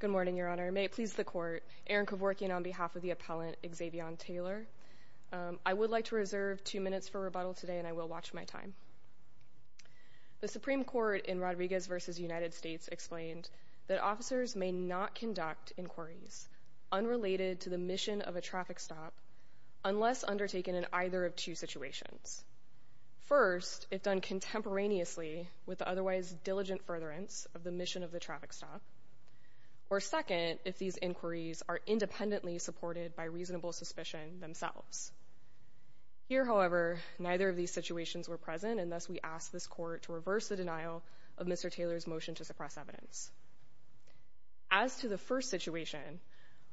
Good morning, your honor. May it please the court, Erin Koworkian on behalf of the appellant Xzavione Taylor. I would like to reserve two minutes for rebuttal today and I will watch my time. The Supreme Court in Rodriguez v. United States explained that officers may not conduct inquiries unrelated to the mission of a traffic stop unless undertaken in either of two situations. First, if done contemporaneously with the otherwise diligent furtherance of the mission of the traffic stop, or second, if these inquiries are independently supported by reasonable suspicion themselves. Here, however, neither of these situations were present and thus we ask this court to reverse the denial of Mr. Taylor's motion to suppress evidence. As to the first situation,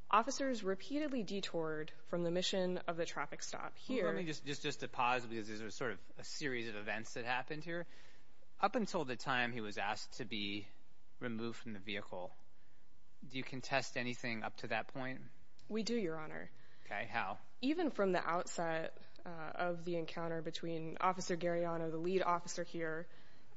officers repeatedly detoured from the mission of the traffic stop. Here... Let me just just just to pause because there's a sort of a series of events that happened here. Up until the time he was asked to be removed from the vehicle, do you contest anything up to that point? We do, your honor. Okay, how? Even from the outset of the encounter between Officer Gariano, the lead officer here,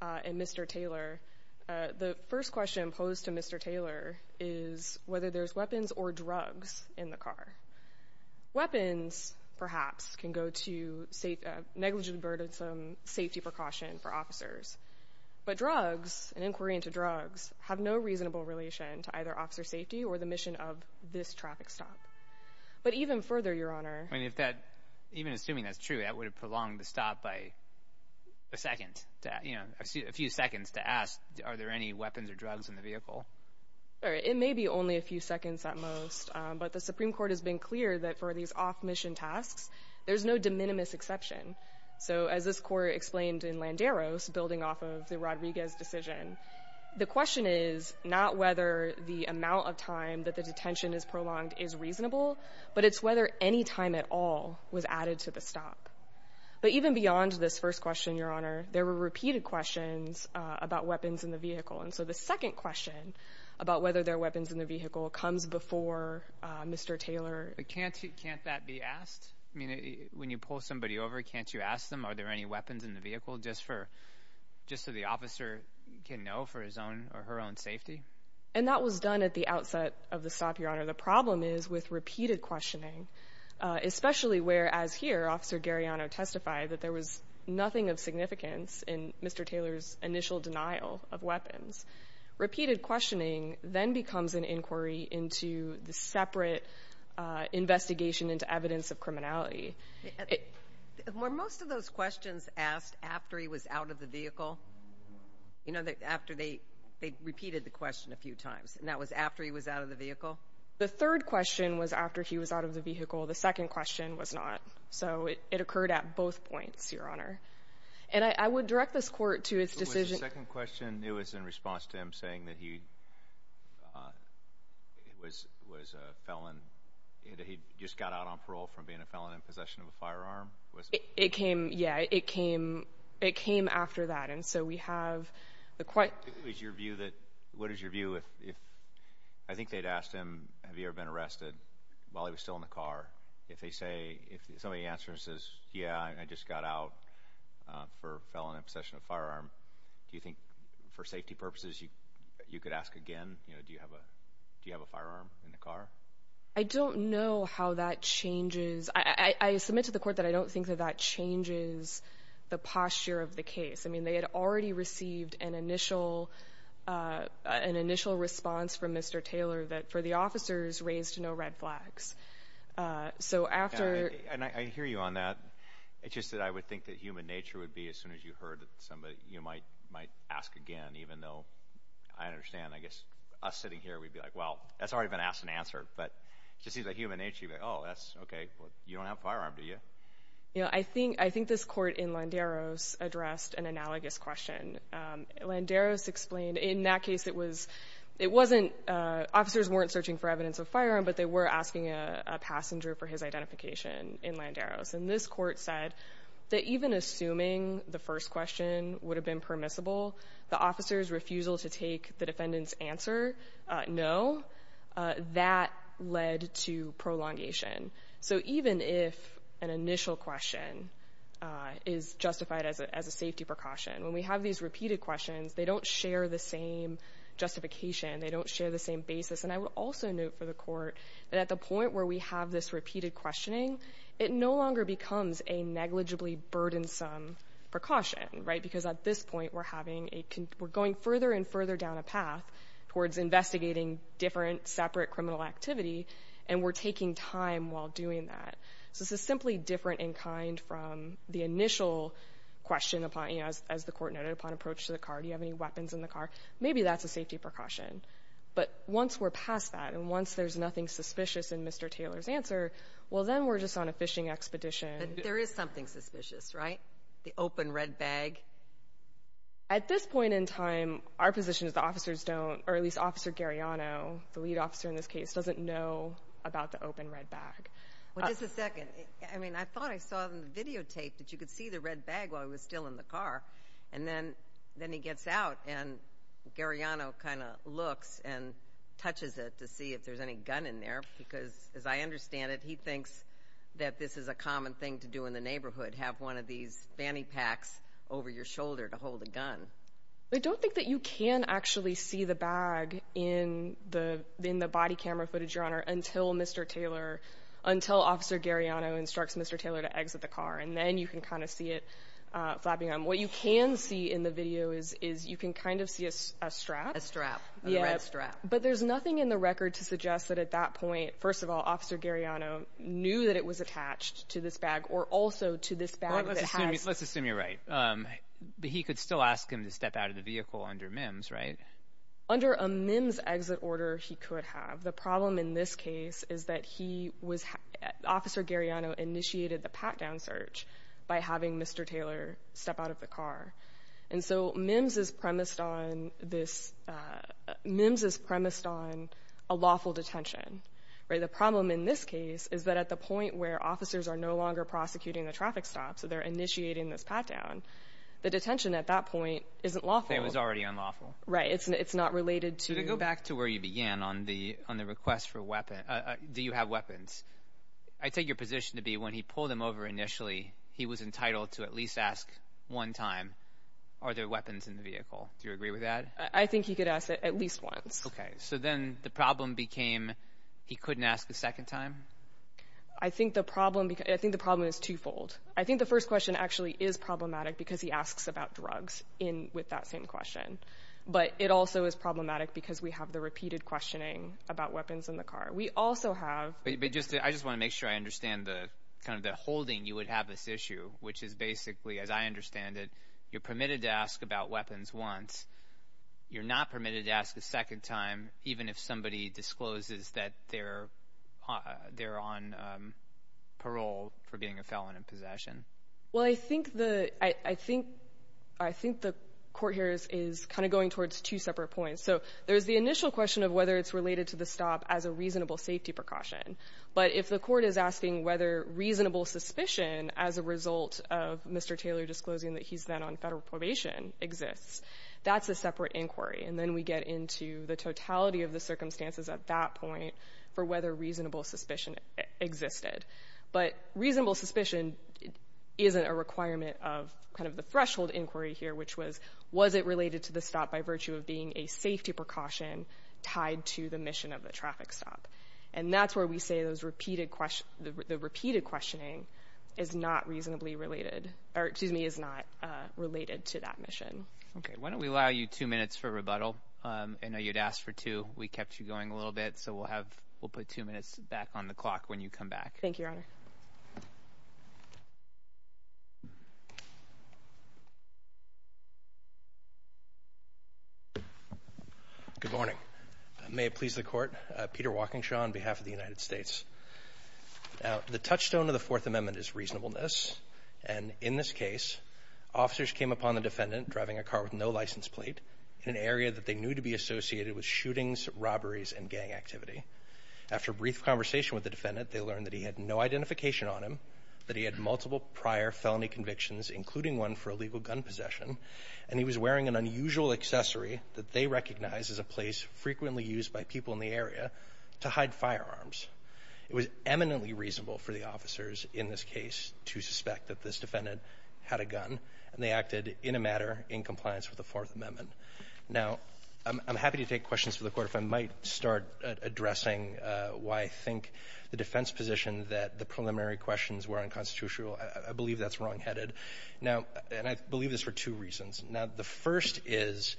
and Mr. Taylor, the first question posed to Mr. Taylor is whether there's weapons or drugs in the car. Weapons, perhaps, can go to negligent burdensome safety precaution for officers, but drugs, an inquiry into drugs, have no reasonable relation to either officer safety or the mission of this traffic stop. But even further, your honor... I mean, if that... Even assuming that's true, that would have prolonged the stop by a second to, you know, a few seconds to ask, are there any weapons or drugs in the vehicle? It may be only a few seconds at most, but the Supreme Court has been clear that for these off-mission tasks, there's no de minimis exception. So as this court explained in Landeros, building off of the Rodriguez decision, the question is not whether the amount of time that the detention is prolonged is reasonable, but it's whether any time at all was added to the stop. But even beyond this first question, your honor, there were repeated questions about weapons in the vehicle. And so the second question about whether there are weapons in the vehicle comes before Mr. Taylor. Can't that be asked? I mean, when you pull somebody over, can't you ask them, are there any weapons in the vehicle, just so the officer can know for his own or her own safety? And that was done at the outset of the stop, your honor. The problem is with repeated questioning, especially where, as here, Officer Gariano testified, that there was nothing of significance in Mr. Taylor's initial denial of weapons. Repeated questioning then becomes an inquiry into the separate investigation into evidence of criminality. Were most of those questions asked after he was out of the vehicle? You know, after they repeated the question a few times, and that was after he was out of the vehicle? The third question was after he was out of the vehicle. The second question was not. So it occurred at both points, your honor. And I would direct this Court to its decision Was the second question, it was in response to him saying that he was a felon, that he just got out on parole from being a felon in possession of a firearm? It came, yeah. It came after that. And so we have the quite It was your view that, what is your view if, I think they'd asked him, have you ever been arrested while he was still in the car? If they say, if somebody answers and says, yeah, I just got out for a felon in possession of a firearm, do you think for safety purposes you could ask again, you know, do you have a firearm in the car? I don't know how that changes. I submit to the Court that I don't think that that changes the posture of the case. I mean, they had already received an initial, an initial response from Mr. Taylor that for the officers raised no red flags. So after And I hear you on that. It's just that I would think that human nature would be as soon as you heard that somebody, you might, might ask again, even though I understand, I guess us sitting here, we'd be like, well, that's already been asked and answered. But it just seems like human nature. Oh, that's okay. You don't have a firearm, do you? You know, I think, I think this court in Landeros addressed an analogous question. Landeros explained in that case, it was, it wasn't, officers weren't searching for evidence of firearm, but they were asking a passenger for his identification in Landeros. And this court said that even assuming the first question would have been permissible, the officer's refusal to take the defendant's answer, no, that led to prolongation. So even if an initial question is justified as a, as a safety precaution, when we have these repeated questions, they don't share the same justification. They don't share the same basis. And I would also note for the court that at the point where we have this repeated questioning, it no longer becomes a negligibly burdensome precaution, right? Because at this point, we're having a, we're going further and further down a path towards investigating different, separate criminal activity, and we're taking time while doing that. So this is simply different in kind from the initial question upon, you know, as the Court noted, upon approach to the car, do you have any weapons in the car? Maybe that's a safety precaution. But once we're past that, and once there's nothing suspicious in Mr. Taylor's answer, well, then we're just on a fishing expedition. But there is something suspicious, right? The open red bag. At this point in time, our position is the officers don't, or at least Officer Gariano, the lead officer in this case, doesn't know about the open red bag. Well, just a second. I mean, I thought I saw in the videotape that you could see the red bag while he was still in the car. And then, then he gets out, and Gariano kind of looks and touches it to see if there's any gun in there, because as I understand it, he thinks that this is a common thing to do in the neighborhood, have one of these fanny packs over your shoulder to hold a gun. I don't think that you can actually see the bag in the body camera footage, Your Honor, until Mr. Taylor, until Officer Gariano instructs Mr. Taylor to exit the car. And then you can kind of see it flapping. What you can see in the video is you can kind of see a strap. A strap. A red strap. But there's nothing in the record to suggest that at that point, first of all, Officer Gariano knew that it was attached to this bag, or also to this bag that has... to step out of the vehicle under MIMS, right? Under a MIMS exit order, he could have. The problem in this case is that he was... Officer Gariano initiated the pat-down search by having Mr. Taylor step out of the car. And so MIMS is premised on this... MIMS is premised on a lawful detention. The problem in this case is that at the point where officers are no longer prosecuting the traffic stop, so they're detention at that point isn't lawful. It was already unlawful. Right. It's not related to... To go back to where you began on the request for weapons... Do you have weapons? I take your position to be when he pulled them over initially, he was entitled to at least ask one time, are there weapons in the vehicle? Do you agree with that? I think he could ask that at least once. Okay. So then the problem became he couldn't ask the second time? I think the problem... I think the problem is twofold. I think the first question actually is problematic because he asks about drugs with that same question. But it also is problematic because we have the repeated questioning about weapons in the car. We also have... I just want to make sure I understand the holding you would have this issue, which is basically, as I understand it, you're permitted to ask about weapons once. You're not permitted to ask a second time, even if somebody discloses that they're on parole for being a felon in possession. Well, I think the... I think... I think the court here is kind of going towards two separate points. So there's the initial question of whether it's related to the stop as a reasonable safety precaution. But if the court is asking whether reasonable suspicion as a result of Mr. Taylor disclosing that he's then on federal probation exists, that's a separate inquiry. And then we get into the totality of the circumstances at that point for whether reasonable suspicion existed. But reasonable suspicion isn't a requirement of kind of the threshold inquiry here, which was, was it related to the stop by virtue of being a safety precaution tied to the mission of the traffic stop? And that's where we say the repeated questioning is not reasonably related, or excuse me, is not related to that mission. Okay. Why don't we allow you two minutes for rebuttal? I know you'd asked for two. We kept you going a little bit. So we'll have, we'll put two minutes back on the clock when you come back. Thank you, Your Honor. Good morning. May it please the Court. Peter Walkingshaw on behalf of the United States. The touchstone of the Fourth Amendment is reasonableness. And in this case, officers came upon the defendant driving a car with no license plate in an area that they knew to be associated with shootings, robberies, and gang activity. After a brief conversation with the defendant, they learned that he had no identification on him, that he had multiple prior felony convictions, including one for illegal gun possession, and he was wearing an unusual accessory that they recognize as a place frequently used by people in the area to hide firearms. It was eminently reasonable for the officers in this case to suspect that this defendant had a gun, and they acted in a matter in compliance with the Fourth Amendment. Now, I'm happy to take questions for the Court. If I might start addressing why I think the defense position that the preliminary questions were unconstitutional, I believe that's wrongheaded. Now, and I believe this for two reasons. Now, the first is,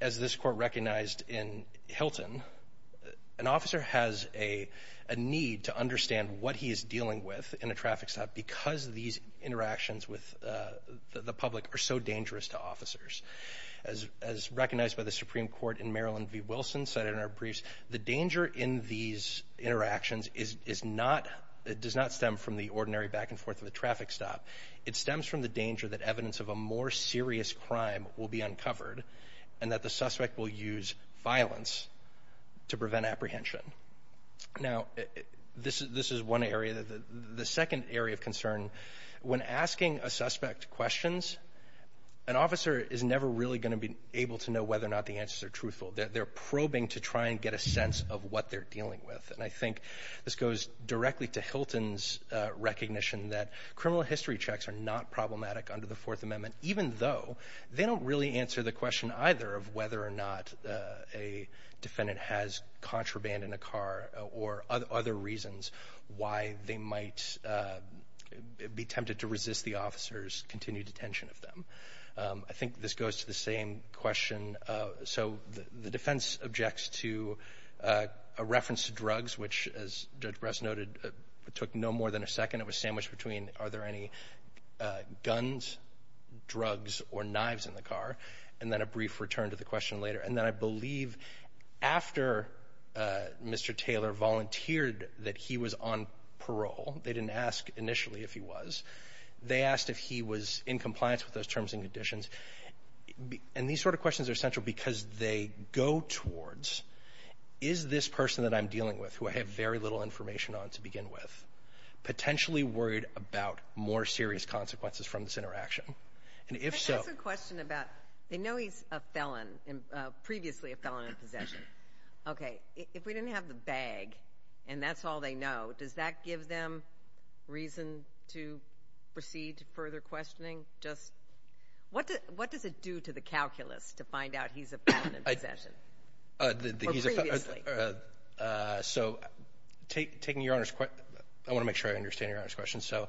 as this Court recognized in Hilton, an officer has a need to understand what he is dealing with in a traffic stop because these interactions with the public are so dangerous to officers. As recognized by the Supreme Court in Marilyn v. Wilson said in our briefs, the danger in these interactions is not, it does not stem from the ordinary back and forth of a traffic stop. It stems from the danger that evidence of a more serious crime will be uncovered and that the suspect will use violence to prevent apprehension. Now, this is one area. The second area of concern, when asking a suspect questions, an officer is never really going to be able to know whether or not the answers are truthful. They're probing to try and get a sense of what they're dealing with. And I think this goes directly to Hilton's recognition that criminal history checks are not problematic under the Fourth Amendment, even though they don't really answer the question either of whether or not a defendant has contraband in a car or other reasons why they might be tempted to resist the officer's continued attention of them. I think this goes to the same question. So the defense objects to a reference to drugs, which, as Judge Brest noted, took no more than a second. It was sandwiched between are there any guns, drugs, or knives in the car, and then a brief return to the question later. And then I believe after Mr. Taylor volunteered that he was on parole, they didn't ask initially if he was. They asked if he was in compliance with those terms and conditions. And these sort of questions are essential because they go towards is this person that I'm dealing with, who I have very little information on to begin with, potentially worried about more serious consequences from this interaction? And if so — But that's the question about they know he's a felon, previously a felon in possession. Okay. If we didn't have the bag and that's all they know, does that give them reason to proceed to further questioning? Just — what does it do to the calculus to find out he's a felon in possession? Or previously? So taking Your Honor's — I want to make sure I understand Your Honor's question. So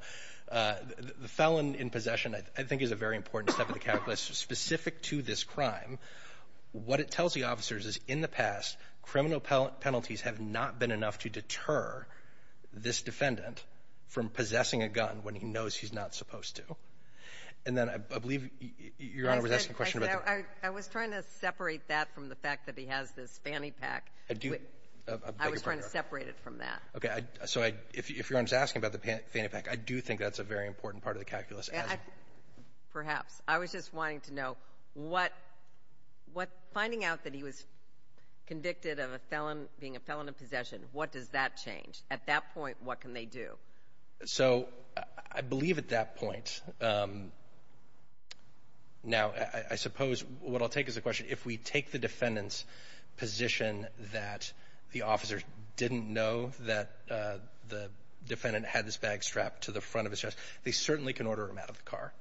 the felon in possession, I think, is a very important step in the calculus specific to this crime. What it tells the officers is, in the past, criminal penalties have not been enough to deter this defendant from possessing a gun when he knows he's not supposed to. And then I believe Your Honor was asking a question about the — I do — I was trying to separate it from that. Okay. So I — if Your Honor's asking about the fanny pack, I do think that's a very important part of the calculus. Yeah, I — perhaps. I was just wanting to know what — what — finding out that he was convicted of a felon — being a felon in possession, what does that change? At that point, what can they do? So I believe at that point — now, I suppose what I'll take as a question, if we take the defendant's position that the officer didn't know that the defendant had this bag strapped to the front of his chest, they certainly can order him out of the car.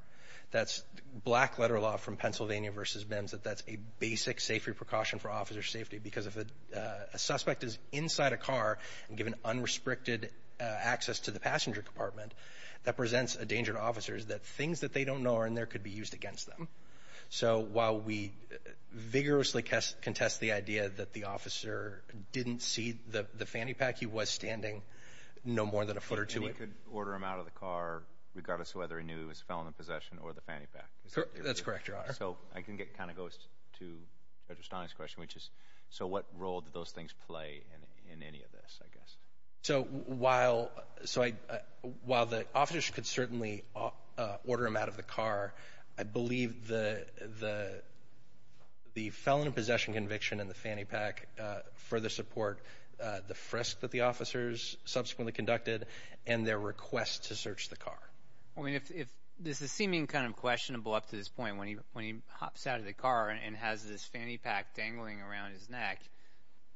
That's black-letter law from Pennsylvania v. MIMS, that that's a basic safety precaution for officer safety, because if a suspect is inside a car and given unrestricted access to the passenger compartment, that presents a danger to officers that things that they don't know are in there could be used against them. So while we vigorously contest the idea that the officer didn't see the fanny pack, he was standing no more than a foot or two — And he could order him out of the car regardless of whether he knew he was a felon in possession or the fanny pack. That's correct, Your Honor. So I can get — kind of goes to Judge O'Stein's question, which is, so what role do those things play in any of this, I guess? So while — so I — while the officer could certainly order him out of the car, I believe the — the felon in possession conviction and the fanny pack further support the frisk that the officers subsequently conducted and their request to search the car. I mean, if — this is seeming kind of questionable up to this point, when he hops out of the car and has this fanny pack dangling around his neck,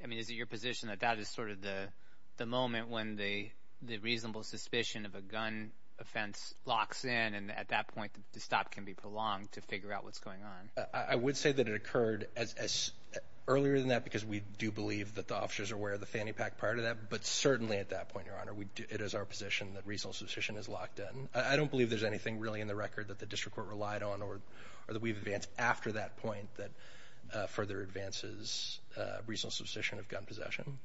I mean, is it your position that that is sort of the moment when the — the reasonable suspicion of a gun offense locks in, and at that point, the stop can be prolonged to figure out what's going on? I would say that it occurred as — earlier than that, because we do believe that the officers are aware of the fanny pack prior to that, but certainly at that point, Your Honor, we — it is our position that reasonable suspicion is locked in. I don't believe there's anything really in the record that the district court relied on or that we've advanced after that point that further advances reasonable suspicion of gun possession.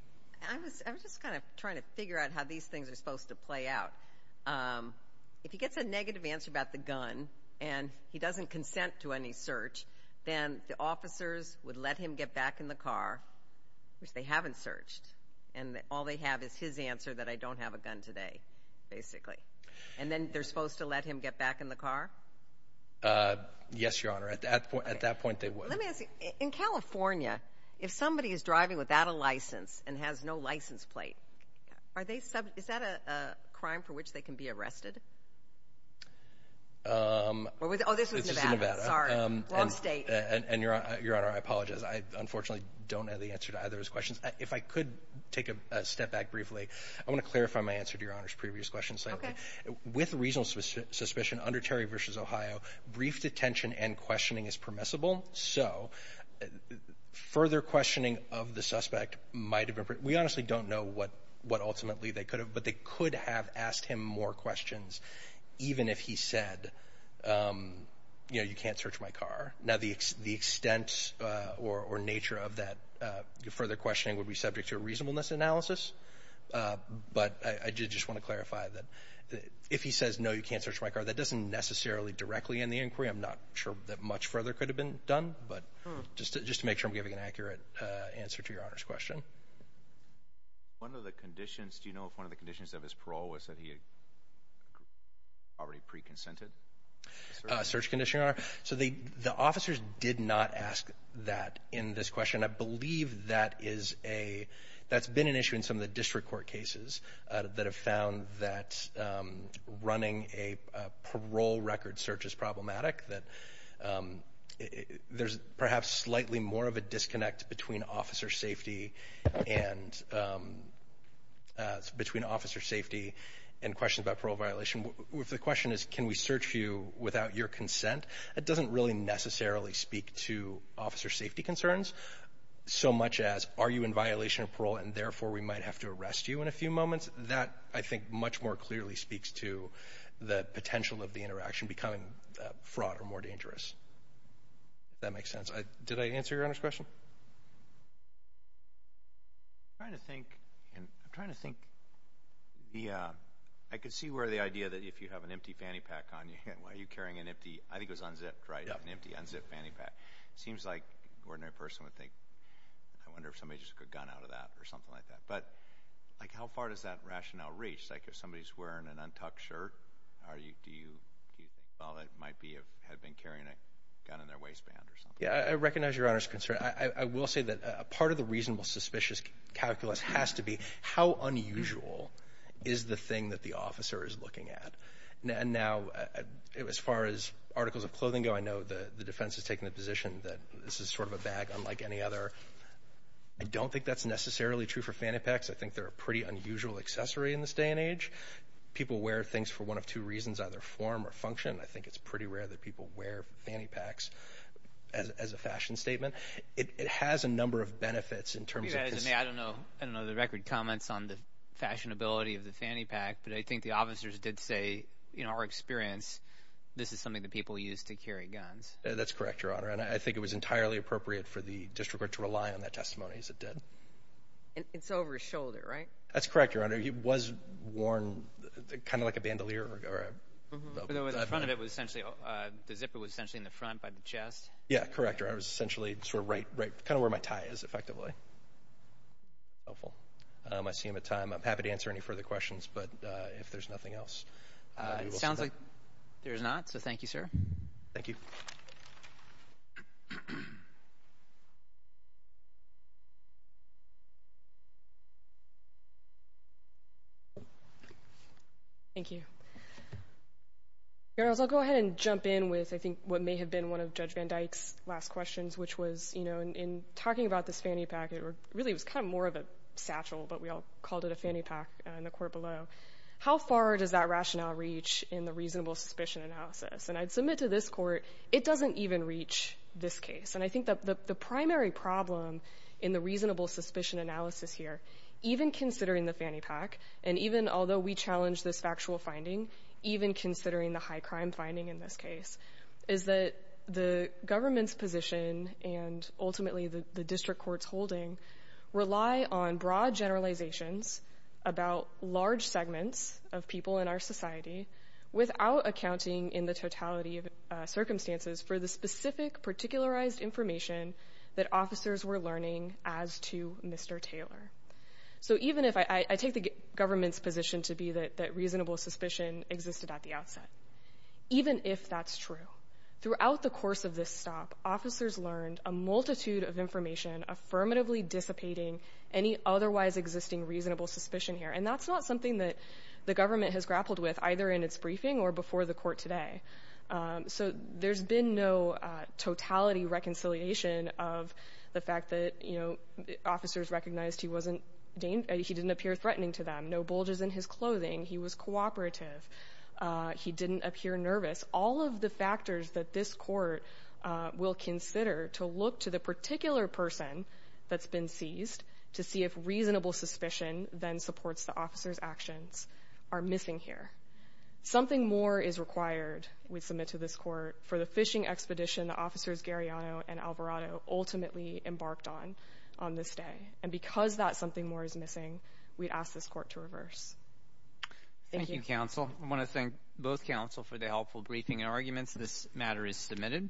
I was — I was just kind of trying to figure out how these things are supposed to play out. If he gets a negative answer about the gun and he doesn't consent to any search, then the officers would let him get back in the car, which they haven't searched, and all they have is his answer that I don't have a gun today, basically. And then they're supposed to let him get back in the car? Yes, Your Honor. At that point — at that point, they would. Let me ask you, in California, if somebody is driving without a license and has no license plate, are they — is that a crime for which they can be arrested? Or was — oh, this was Nevada. Sorry. Wrong state. And, Your Honor, I apologize. I unfortunately don't have the answer to either of those questions. If I could take a step back briefly, I want to clarify my answer to Your Honor's previous question slightly. Okay. With reasonable suspicion under Terry v. Ohio, brief detention and no, further questioning of the suspect might have been — we honestly don't know what ultimately they could have, but they could have asked him more questions even if he said, you know, you can't search my car. Now, the extent or nature of that further questioning would be subject to a reasonableness analysis, but I just want to clarify that if he says, no, you can't search my car, that doesn't necessarily directly end the inquiry. I'm not sure that much further could have been done, but just to make sure I'm giving an accurate answer to Your Honor's question. One of the conditions — do you know if one of the conditions of his parole was that he had already pre-consented? Search condition, Your Honor? So the officers did not ask that in this question. I believe that is a — that's been an issue in some of the district court cases that have found that running a parole record search is problematic, that there's perhaps slightly more of a disconnect between officer safety and between officer safety and questions about parole violation. If the question is, can we search you without your consent, that doesn't really necessarily speak to officer safety concerns so much as, are you in violation of parole and therefore we might have to arrest you in a few moments. That, I think, much more clearly speaks to the potential of the interaction becoming fraught or more dangerous, if that makes sense. Did I answer Your Honor's question? I'm trying to think. I'm trying to think. I could see where the idea that if you have an empty fanny pack on you, why are you carrying an empty — I think it was unzipped, right? An empty, unzipped fanny pack. Seems like an ordinary person would think, I wonder if somebody just took a gun out of that or something like that. But, like, how far does that rationale reach? Like, if somebody's wearing an untucked shirt, do you think, well, that might be if they had been carrying a gun in their waistband or something? Yeah, I recognize Your Honor's concern. I will say that part of the reasonable suspicious calculus has to be, how unusual is the thing that the officer is looking at? And now, as far as articles of clothing go, I know the defense has taken the position that this is sort of a bag unlike any other. I don't think that's necessarily true for fanny packs. I think they're a pretty unusual accessory in this day and age. People wear things for one of two reasons, either form or function. I think it's pretty rare that people wear fanny packs as a fashion statement. It has a number of benefits in terms of — I don't know the record comments on the fashionability of the fanny pack, but I think the officers did say, in our experience, this is something that people use to carry guns. That's correct, Your Honor. And I think it was entirely appropriate for the It's over his shoulder, right? That's correct, Your Honor. He was worn kind of like a bandolier. The front of it was essentially — the zipper was essentially in the front by the chest. Yeah, correct, Your Honor. It was essentially sort of right — kind of where my tie is, effectively. I see him at time. I'm happy to answer any further questions, but if there's nothing else — It sounds like there's not, so thank you, sir. Thank you. Thank you. Your Honors, I'll go ahead and jump in with, I think, what may have been one of Judge Van Dyke's last questions, which was, you know, in talking about this fanny pack, it really was kind of more of a satchel, but we all called it a fanny pack in the court below. How far does that rationale reach in the reasonable suspicion analysis? And I'd submit to this court, it doesn't even reach this case. And I think that the primary problem in the reasonable suspicion analysis is here, even considering the fanny pack, and even although we challenge this factual finding, even considering the high crime finding in this case, is that the government's position and ultimately the district court's holding rely on broad generalizations about large segments of people in our society without accounting in the totality of circumstances for the specific particularized information that officers were learning as to Mr. Taylor. So even if I take the government's position to be that reasonable suspicion existed at the outset, even if that's true, throughout the course of this stop, officers learned a multitude of information affirmatively dissipating any otherwise existing reasonable suspicion here, and that's not something that the government has grappled with, either in its briefing or before the court today. So there's been no totality reconciliation of the fact that, you know, officers recognized he wasn't — he didn't appear threatening to them, no bulges in his clothing, he was cooperative, he didn't appear nervous. All of the factors that this court will consider to look to the particular person that's been seized to see if reasonable suspicion then supports the officer's actions are missing here. Something more is required, we submit to this court, for the fishing expedition that officers Gariano and Alvarado ultimately embarked on on this day. And because that something more is missing, we'd ask this court to reverse. Thank you. Thank you, counsel. I want to thank both counsel for the helpful briefing and arguments. This matter is submitted.